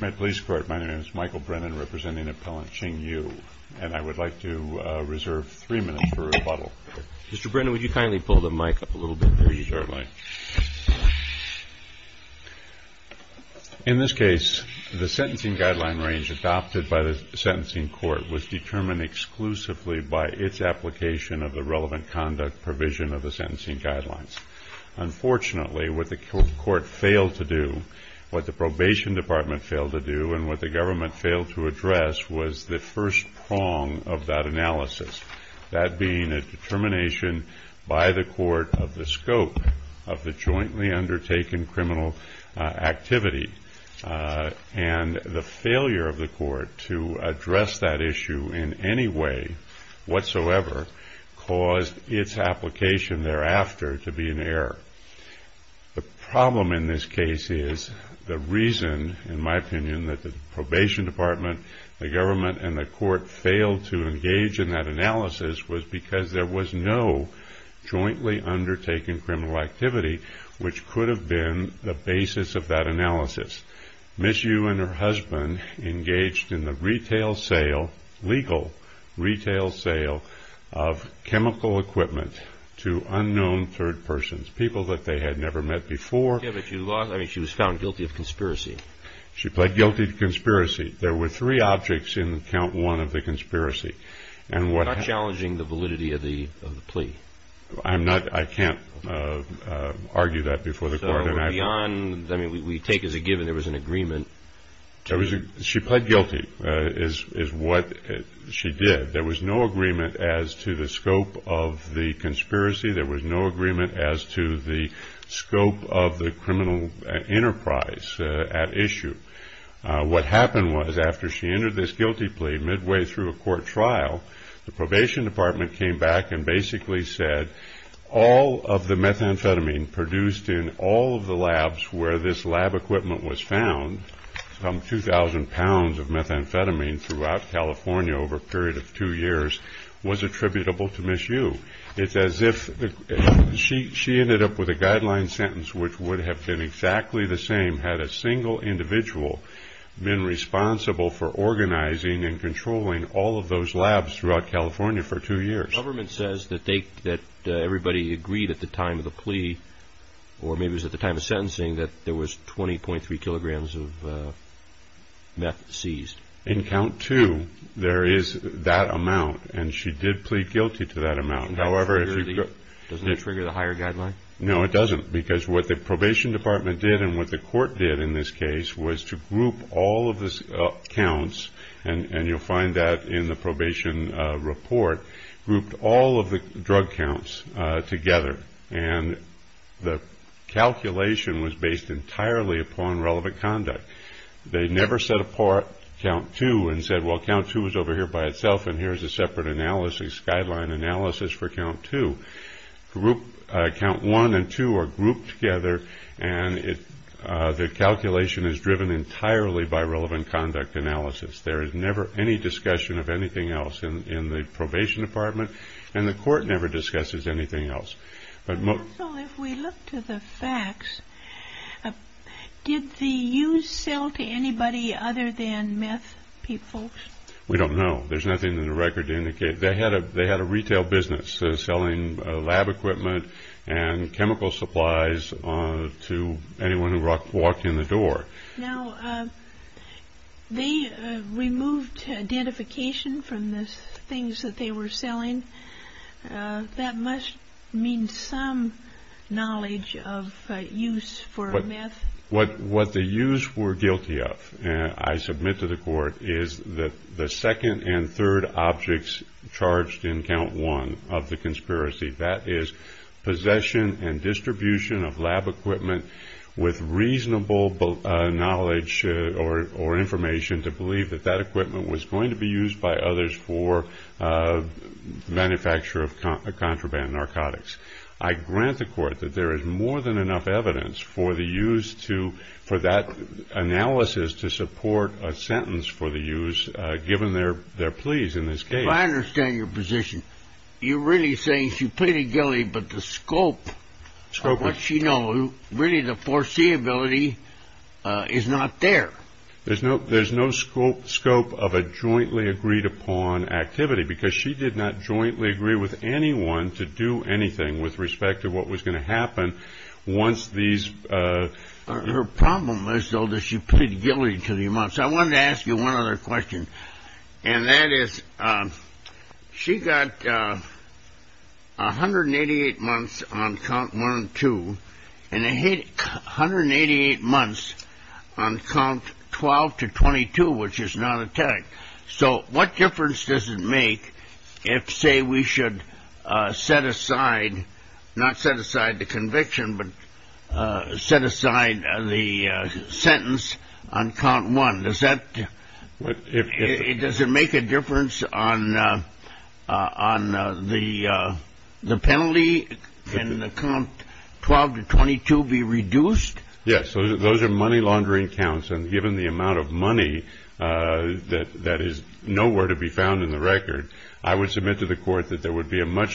In this case, the sentencing guideline range adopted by the sentencing court was determined exclusively by its application of the relevant conduct provision of the sentencing guidelines. Unfortunately, what the court failed to do, what the probation department failed to do, and what the government failed to address was the first prong of that analysis, that being a determination by the court of the scope of the jointly undertaken criminal activity. And the failure of the court to address that issue in any way whatsoever caused its application thereafter to be in error. The problem in this case is the reason, in my opinion, that the probation department, the government, and the court failed to engage in that analysis was because there was no jointly undertaken criminal activity which could have been the basis of that analysis. Ms. Yu and her husband engaged in the retail sale, legal retail sale, of chemical equipment to unknown third persons, people that they had never met before. Yeah, but she was found guilty of conspiracy. She pled guilty to conspiracy. There were three objects in count one of the conspiracy. Not challenging the validity of the plea. I can't argue that before the court. We take as a given there was an agreement. She pled guilty is what she did. There was no agreement as to the scope of the conspiracy. There was no agreement as to the scope of the criminal enterprise at issue. What happened was after she entered this guilty plea, midway through a court trial, the probation department came back and basically said all of the methamphetamine produced in all of the labs where this lab equipment was found, some 2,000 pounds of methamphetamine throughout California over a period of two years, was attributable to Ms. Yu. It's as if she ended up with a guideline sentence which would have been exactly the same had a single individual been responsible for organizing and controlling all of those labs throughout California for two years. The government says that everybody agreed at the time of the plea, or maybe it was at the time of sentencing, that there was 20.3 kilograms of meth seized. In count two, there is that amount, and she did plead guilty to that amount. Doesn't that trigger the higher guideline? No, it doesn't, because what the probation department did and what the court did in this case was to group all of the counts, and you'll find that in the probation report, grouped all of the drug counts together, and the calculation was based entirely upon relevant conduct. They never set apart count two and said, well, count two is over here by itself, and here's a separate analysis, guideline analysis for count two. Count one and two are grouped together, and the calculation is driven entirely by relevant conduct analysis. There is never any discussion of anything else in the probation department, and the court never discusses anything else. Also, if we look to the facts, did the use sell to anybody other than meth people? We don't know. There's nothing in the record to indicate. They had a retail business selling lab equipment and chemical supplies to anyone who walked in the door. Now, they removed identification from the things that they were selling. That must mean some knowledge of use for meth. What the use were guilty of, I submit to the court, is that the second and third objects charged in count one of the conspiracy, that is possession and distribution of lab equipment with reasonable knowledge or information to believe that that equipment was going to be used by others for manufacture of contraband narcotics. I grant the court that there is more than enough evidence for the use to, for that analysis to support a sentence for the use, given their pleas in this case. If I understand your position, you're really saying she pleaded guilty, but the scope of what she knows, really the foreseeability is not there. There's no scope of a jointly agreed upon activity, because she did not jointly agree with anyone to do anything with respect to what was going to happen once these... Her problem is, though, that she pleaded guilty to the amounts. I wanted to ask you one other question, and that is, she got 188 months on count one and two, and 188 months on count 12 to 22, which is not a tag. So what difference does it make if, say, we should set aside, not set aside the conviction, but set aside the sentence on count one? Does that, does it make a difference on the penalty? Can the count 12 to 22 be reduced? Yes, those are money laundering counts, and given the amount of money that is nowhere to be found in the record, I would submit to the court that there would be a much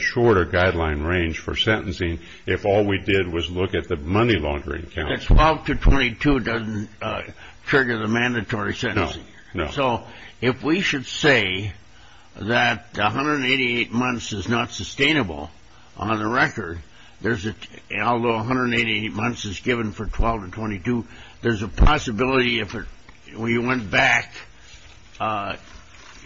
shorter guideline range for sentencing if all we did was look at the money laundering counts. 12 to 22 doesn't trigger the mandatory sentencing. No, no. So if we should say that 188 months is not sustainable on the record, although 188 months is given for 12 to 22, there's a possibility if we went back,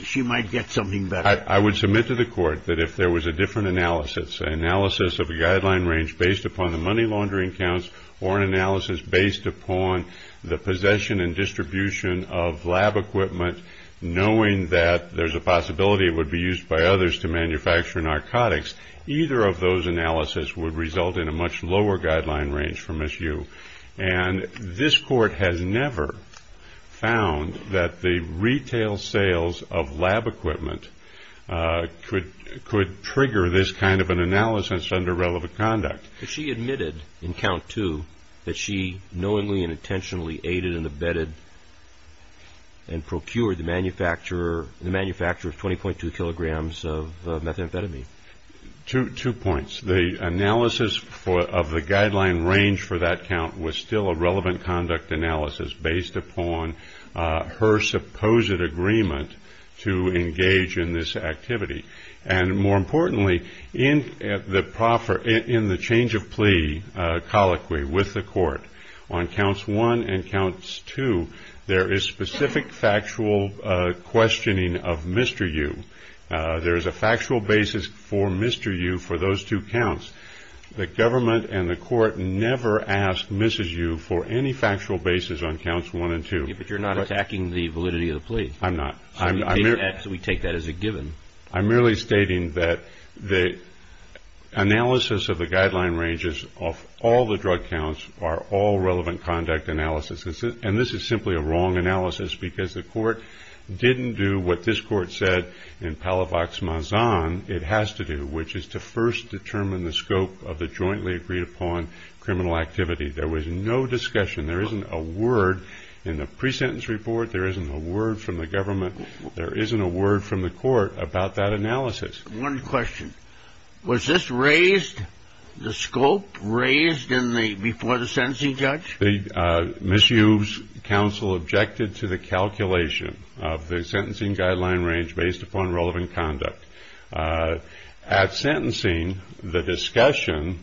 she might get something better. I would submit to the court that if there was a different analysis, an analysis of a guideline range based upon the money laundering counts or an analysis based upon the possession and distribution of lab equipment, knowing that there's a possibility it would be used by others to manufacture narcotics, either of those analysis would result in a much lower guideline range for MSU. And this court has never found that the retail sales of lab equipment could trigger this kind of an analysis under relevant conduct. She admitted in count two that she knowingly and intentionally aided and abetted and procured the manufacture of 20.2 kilograms of methamphetamine. Two points. The analysis of the guideline range for that count was still a relevant conduct analysis based upon her supposed agreement to engage in this activity. And more importantly, in the change of plea colloquy with the court on counts one and counts two, there is specific factual questioning of Mr. Yu. There is a factual basis for Mr. Yu for those two counts. The government and the court never asked Mrs. Yu for any factual basis on counts one and two. But you're not attacking the validity of the plea. I'm not. We take that as a given. I'm merely stating that the analysis of the guideline ranges of all the drug counts are all relevant conduct analysis. And this is simply a wrong analysis because the court didn't do what this court said in Palavax Mazan it has to do, which is to first determine the scope of the jointly agreed upon criminal activity. There was no discussion. There isn't a word in the pre-sentence report. There isn't a word from the government. There isn't a word from the court about that analysis. One question. Was this raised, the scope raised before the sentencing judge? Mrs. Yu's counsel objected to the calculation of the sentencing guideline range based upon relevant conduct. At sentencing, the discussion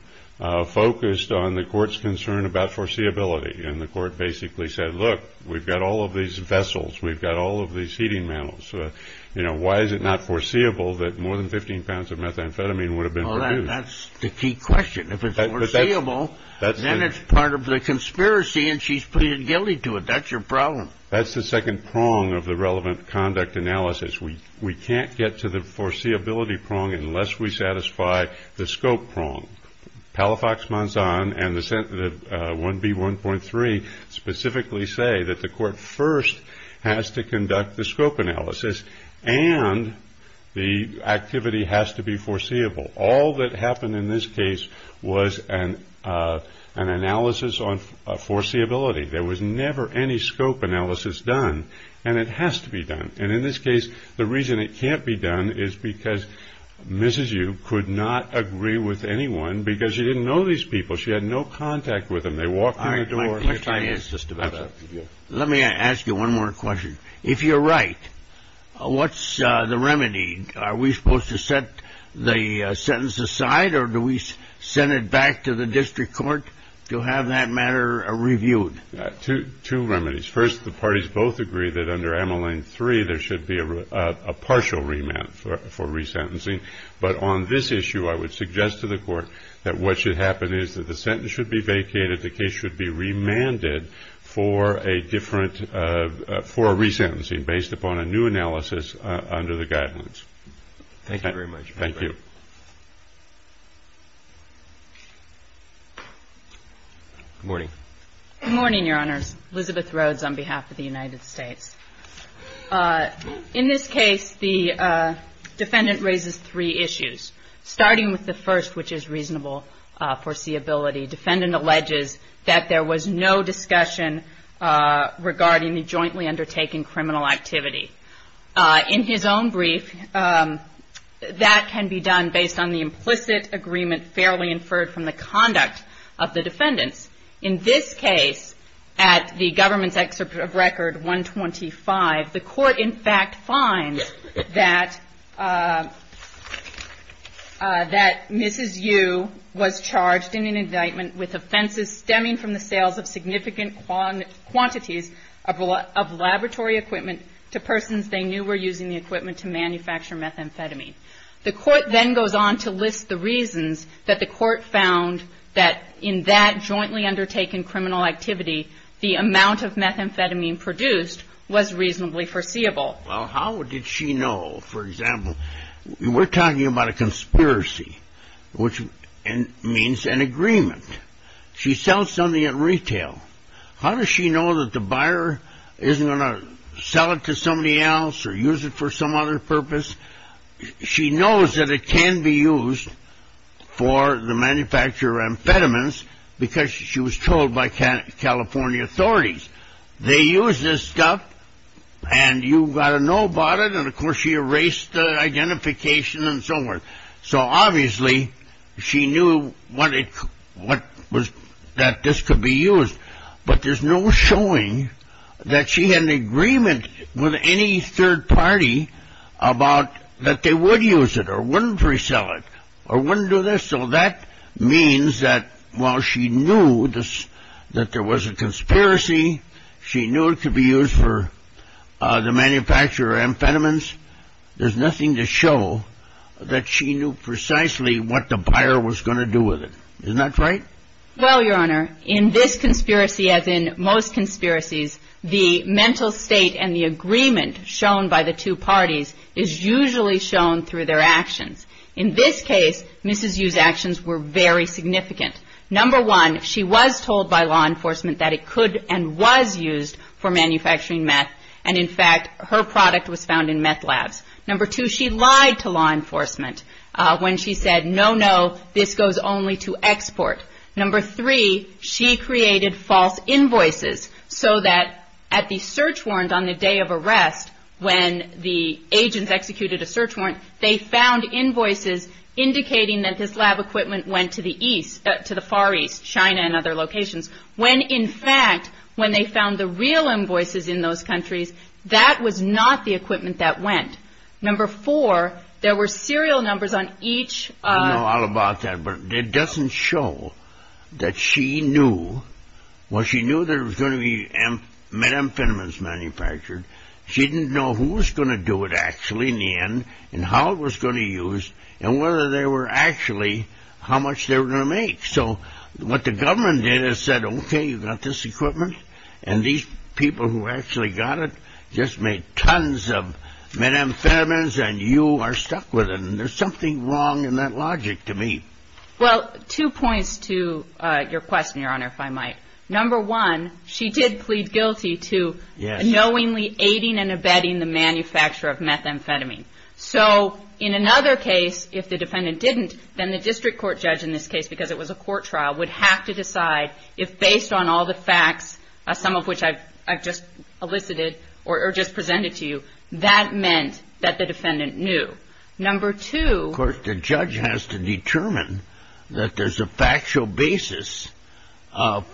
focused on the court's concern about foreseeability. And the court basically said, look, we've got all of these vessels. We've got all of these heating mantles. Why is it not foreseeable that more than 15 pounds of methamphetamine would have been produced? That's the key question. If it's foreseeable, then it's part of the conspiracy and she's pleaded guilty to it. That's your problem. That's the second prong of the relevant conduct analysis. We can't get to the foreseeability prong unless we satisfy the scope prong. Palavax Mazan and the 1B1.3 specifically say that the court first has to conduct the scope analysis and the activity has to be foreseeable. All that happened in this case was an analysis on foreseeability. There was never any scope analysis done. And it has to be done. And in this case, the reason it can't be done is because Mrs. Yu could not agree with anyone because she didn't know these people. She had no contact with them. They walked in the door. Let me ask you one more question. If you're right, what's the remedy? Are we supposed to set the sentence aside or do we send it back to the district court to have that matter reviewed? Two remedies. First, the parties both agree that under MLA 3 there should be a partial remand for resentencing. But on this issue, I would suggest to the court that what should happen is that the sentence should be vacated, that the case should be remanded for a different, for a resentencing based upon a new analysis under the guidelines. Thank you very much. Thank you. Good morning. Good morning, Your Honors. Elizabeth Rhodes on behalf of the United States. In this case, the defendant raises three issues, starting with the first, which is reasonable foreseeability. The defendant alleges that there was no discussion regarding the jointly undertaking criminal activity. In his own brief, that can be done based on the implicit agreement fairly inferred from the conduct of the defendants. In this case, at the government's excerpt of record 125, the court in fact finds that Mrs. Yu was charged in an indictment with offenses stemming from the sales of significant quantities of laboratory equipment to persons they knew were using the equipment to manufacture methamphetamine. The court then goes on to list the reasons that the court found that in that jointly undertaken criminal activity, the amount of methamphetamine produced was reasonably foreseeable. Well, how did she know? For example, we're talking about a conspiracy, which means an agreement. She sells something at retail. How does she know that the buyer isn't going to sell it to somebody else or use it for some other purpose? She knows that it can be used for the manufacture of amphetamines because she was told by California authorities. They use this stuff, and you've got to know about it, and of course she erased the identification and so forth. So obviously she knew that this could be used, but there's no showing that she had an agreement with any third party about that they would use it or wouldn't resell it or wouldn't do this. So that means that while she knew that there was a conspiracy, she knew it could be used for the manufacture of amphetamines, there's nothing to show that she knew precisely what the buyer was going to do with it. Isn't that right? Well, Your Honor, in this conspiracy, as in most conspiracies, the mental state and the agreement shown by the two parties is usually shown through their actions. In this case, Mrs. Yu's actions were very significant. Number one, she was told by law enforcement that it could and was used for manufacturing meth, and in fact her product was found in meth labs. Number two, she lied to law enforcement when she said, no, no, this goes only to export. Number three, she created false invoices so that at the search warrant on the day of arrest when the agents executed a search warrant, they found invoices indicating that this lab equipment went to the east, to the far east, China and other locations, when in fact when they found the real invoices in those countries, that was not the equipment that went. Number four, there were serial numbers on each. I don't know all about that, but it doesn't show that she knew. Well, she knew there was going to be methamphetamines manufactured. She didn't know who was going to do it actually in the end and how it was going to use and whether they were actually, how much they were going to make. So what the government did is said, okay, you've got this equipment, and these people who actually got it just made tons of methamphetamines and you are stuck with it. And there's something wrong in that logic to me. Well, two points to your question, Your Honor, if I might. Number one, she did plead guilty to knowingly aiding and abetting the manufacture of methamphetamine. So in another case, if the defendant didn't, then the district court judge in this case, because it was a court trial, would have to decide if based on all the facts, some of which I've just elicited or just presented to you, that meant that the defendant knew. Number two, of course, the judge has to determine that there's a factual basis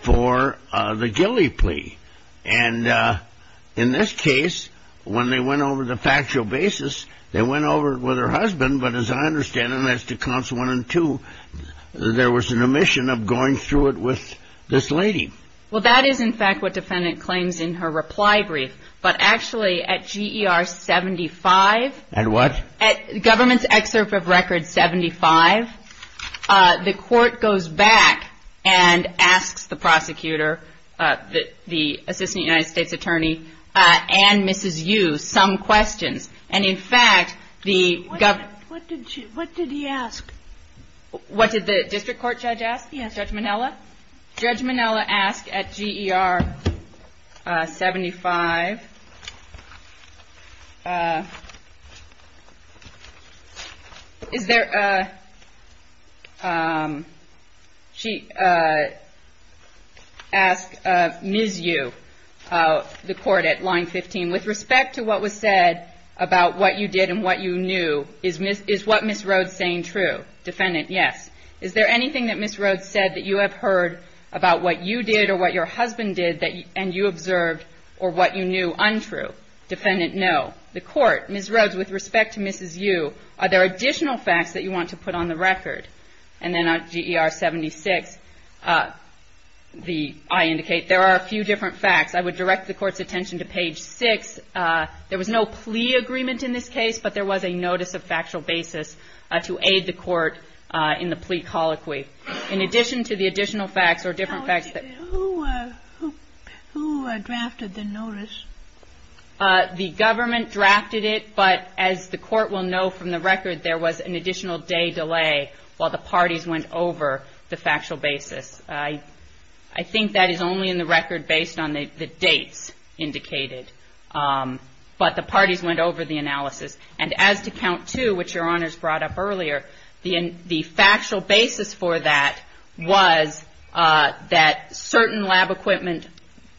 for the ghillie plea. And in this case, when they went over the factual basis, they went over it with her husband. But as I understand it, as to counts one and two, there was an omission of going through it with this lady. Well, that is, in fact, what defendant claims in her reply brief. But actually, at G.E.R. 75, at what? At government's excerpt of record 75, the court goes back and asks the prosecutor, the assistant United States attorney, and Mrs. Yu, some questions. And in fact, the government... What did he ask? What did the district court judge ask? Judge Minella? Judge Minella asked at G.E.R. 75, is there... She asked Ms. Yu, the court, at line 15, with respect to what was said about what you did and what you knew, is what Ms. Rhodes saying true? Defendant, yes. Is there anything that Ms. Rhodes said that you have heard about what you did or what your husband did and you observed or what you knew untrue? Defendant, no. The court, Ms. Rhodes, with respect to Mrs. Yu, are there additional facts that you want to put on the record? And then at G.E.R. 76, I indicate there are a few different facts. I would direct the court's attention to page 6. There was no plea agreement in this case, but there was a notice of factual basis to aid the court in the plea colloquy. In addition to the additional facts or different facts that... Who drafted the notice? The government drafted it, but as the court will know from the record, there was an additional day delay while the parties went over the factual basis. I think that is only in the record based on the dates indicated. But the parties went over the analysis. And as to count two, which Your Honors brought up earlier, the factual basis for that was that certain lab equipment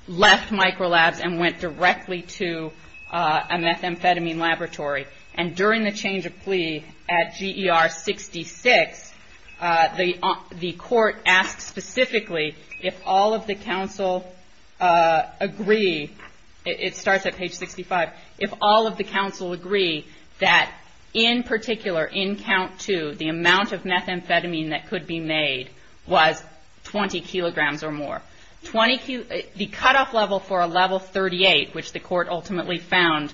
left microlabs and went directly to a methamphetamine laboratory. And during the change of plea at G.E.R. 66, the court asked specifically if all of the counsel agree, it starts at page 65, if all of the counsel agree that in particular, in count two, the amount of methamphetamine that could be made was 20 kilograms or more. The cutoff level for a level 38, which the court ultimately found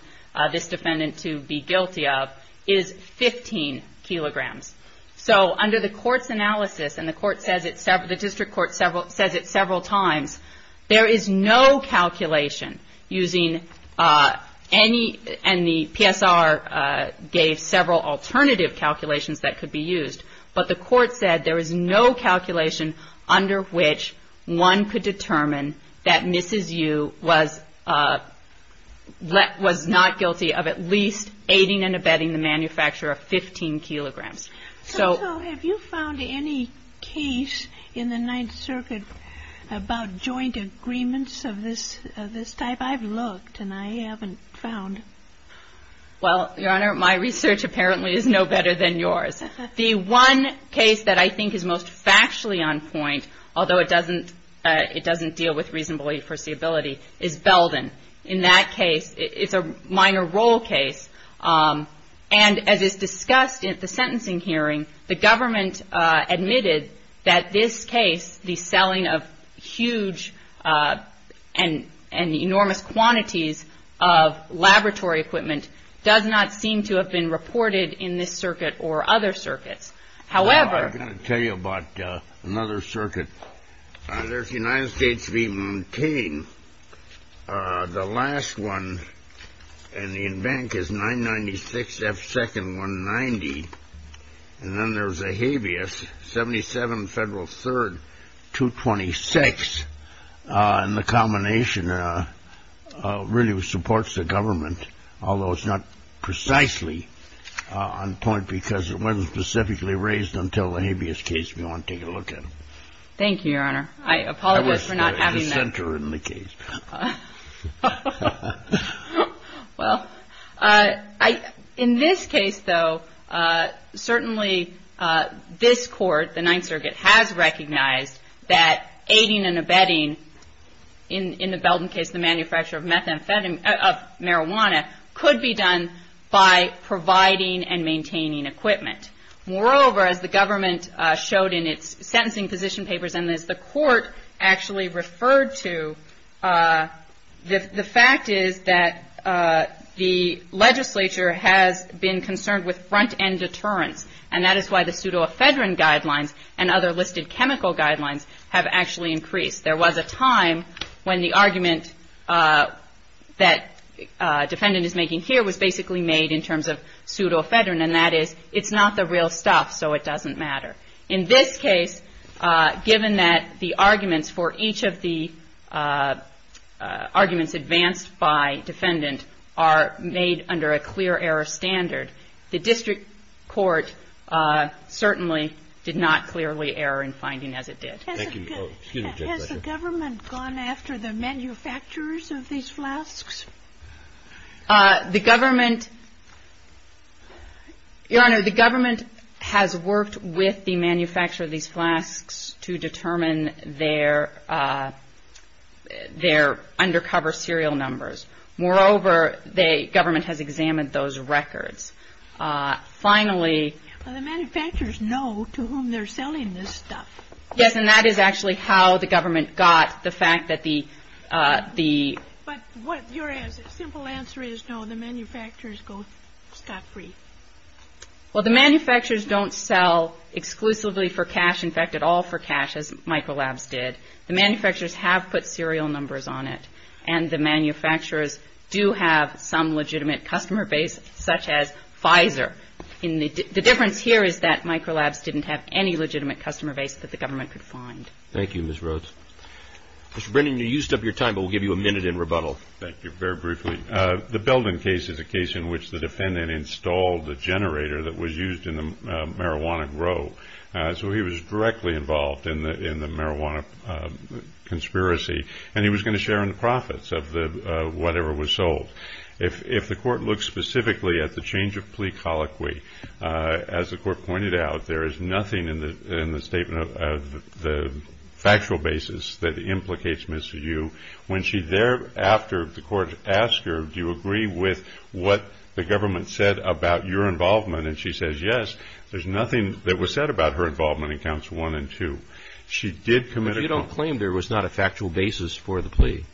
this defendant to be guilty of, is 15 kilograms. So under the court's analysis, and the district court says it several times, there is no calculation using any, and the PSR gave several alternative calculations that could be used, but the court said there is no calculation under which one could determine that Mrs. Yu was not guilty of at least aiding and abetting the manufacturer of 15 kilograms. So have you found any case in the Ninth Circuit about joint agreements of this type? I've looked, and I haven't found. Well, Your Honor, my research apparently is no better than yours. The one case that I think is most factually on point, although it doesn't deal with reasonable foreseeability, is Belden. In that case, it's a minor role case. And as is discussed at the sentencing hearing, the government admitted that this case, the selling of huge and enormous quantities of laboratory equipment, does not seem to have been reported in this circuit or other circuits. I've got to tell you about another circuit. There's United States v. Montaigne. The last one in the bank is 996 F. 2nd, 190. And then there's a habeas, 77 Federal 3rd, 226. And the combination really supports the government, although it's not precisely on point because it wasn't specifically raised until the habeas case we want to take a look at. Thank you, Your Honor. I apologize for not having that. I was the center in the case. Well, in this case, though, certainly this court, the Ninth Circuit, has recognized that aiding and abetting, in the Belden case, the manufacture of marijuana could be done by providing and maintaining equipment. Moreover, as the government showed in its sentencing position papers, and as the court actually referred to, the fact is that the legislature has been concerned with front-end deterrence. And that is why the pseudoephedrine guidelines and other listed chemical guidelines have actually increased. There was a time when the argument that defendant is making here was basically made in terms of pseudoephedrine, and that is it's not the real stuff, so it doesn't matter. In this case, given that the arguments for each of the arguments advanced by defendant are made under a clear error standard, the district court certainly did not clearly err in finding as it did. Thank you. Has the government gone after the manufacturers of these flasks? Your Honor, the government has worked with the manufacturer of these flasks to determine their undercover serial numbers. Moreover, the government has examined those records. The manufacturers know to whom they're selling this stuff. Yes, and that is actually how the government got the fact that the... But your simple answer is no, the manufacturers got free. Well, the manufacturers don't sell exclusively for cash, in fact, at all for cash, as Microlabs did. The manufacturers have put serial numbers on it, and the manufacturers do have some legitimate customer base, such as Pfizer. The difference here is that Microlabs didn't have any legitimate customer base that the government could find. Thank you, Ms. Rhodes. Mr. Brennan, you used up your time, but we'll give you a minute in rebuttal. Thank you. Very briefly, the Belden case is a case in which the defendant installed the generator that was used in the marijuana grow, so he was directly involved in the marijuana conspiracy, and he was going to share in the profits of whatever was sold. If the court looks specifically at the change of plea colloquy, as the court pointed out, there is nothing in the statement of the factual basis that implicates Ms. Yu. When she thereafter, the court asked her, do you agree with what the government said about your involvement, and she says yes. There's nothing that was said about her involvement in counts one and two. She did commit a... But you don't claim there was not a factual basis for the plea.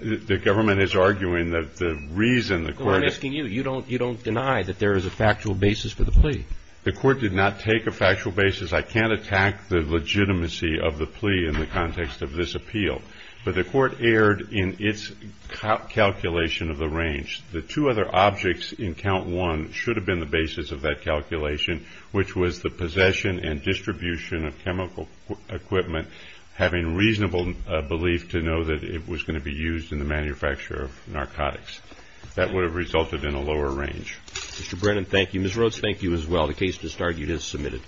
The government is arguing that the reason the court... No, I'm asking you. You don't deny that there is a factual basis for the plea. The court did not take a factual basis. I can't attack the legitimacy of the plea in the context of this appeal, but the court erred in its calculation of the range. The two other objects in count one should have been the basis of that calculation, which was the possession and distribution of chemical equipment, having reasonable belief to know that it was going to be used in the manufacture of narcotics. That would have resulted in a lower range. Mr. Brennan, thank you. Ms. Rhodes, thank you as well. The case to start you has submitted.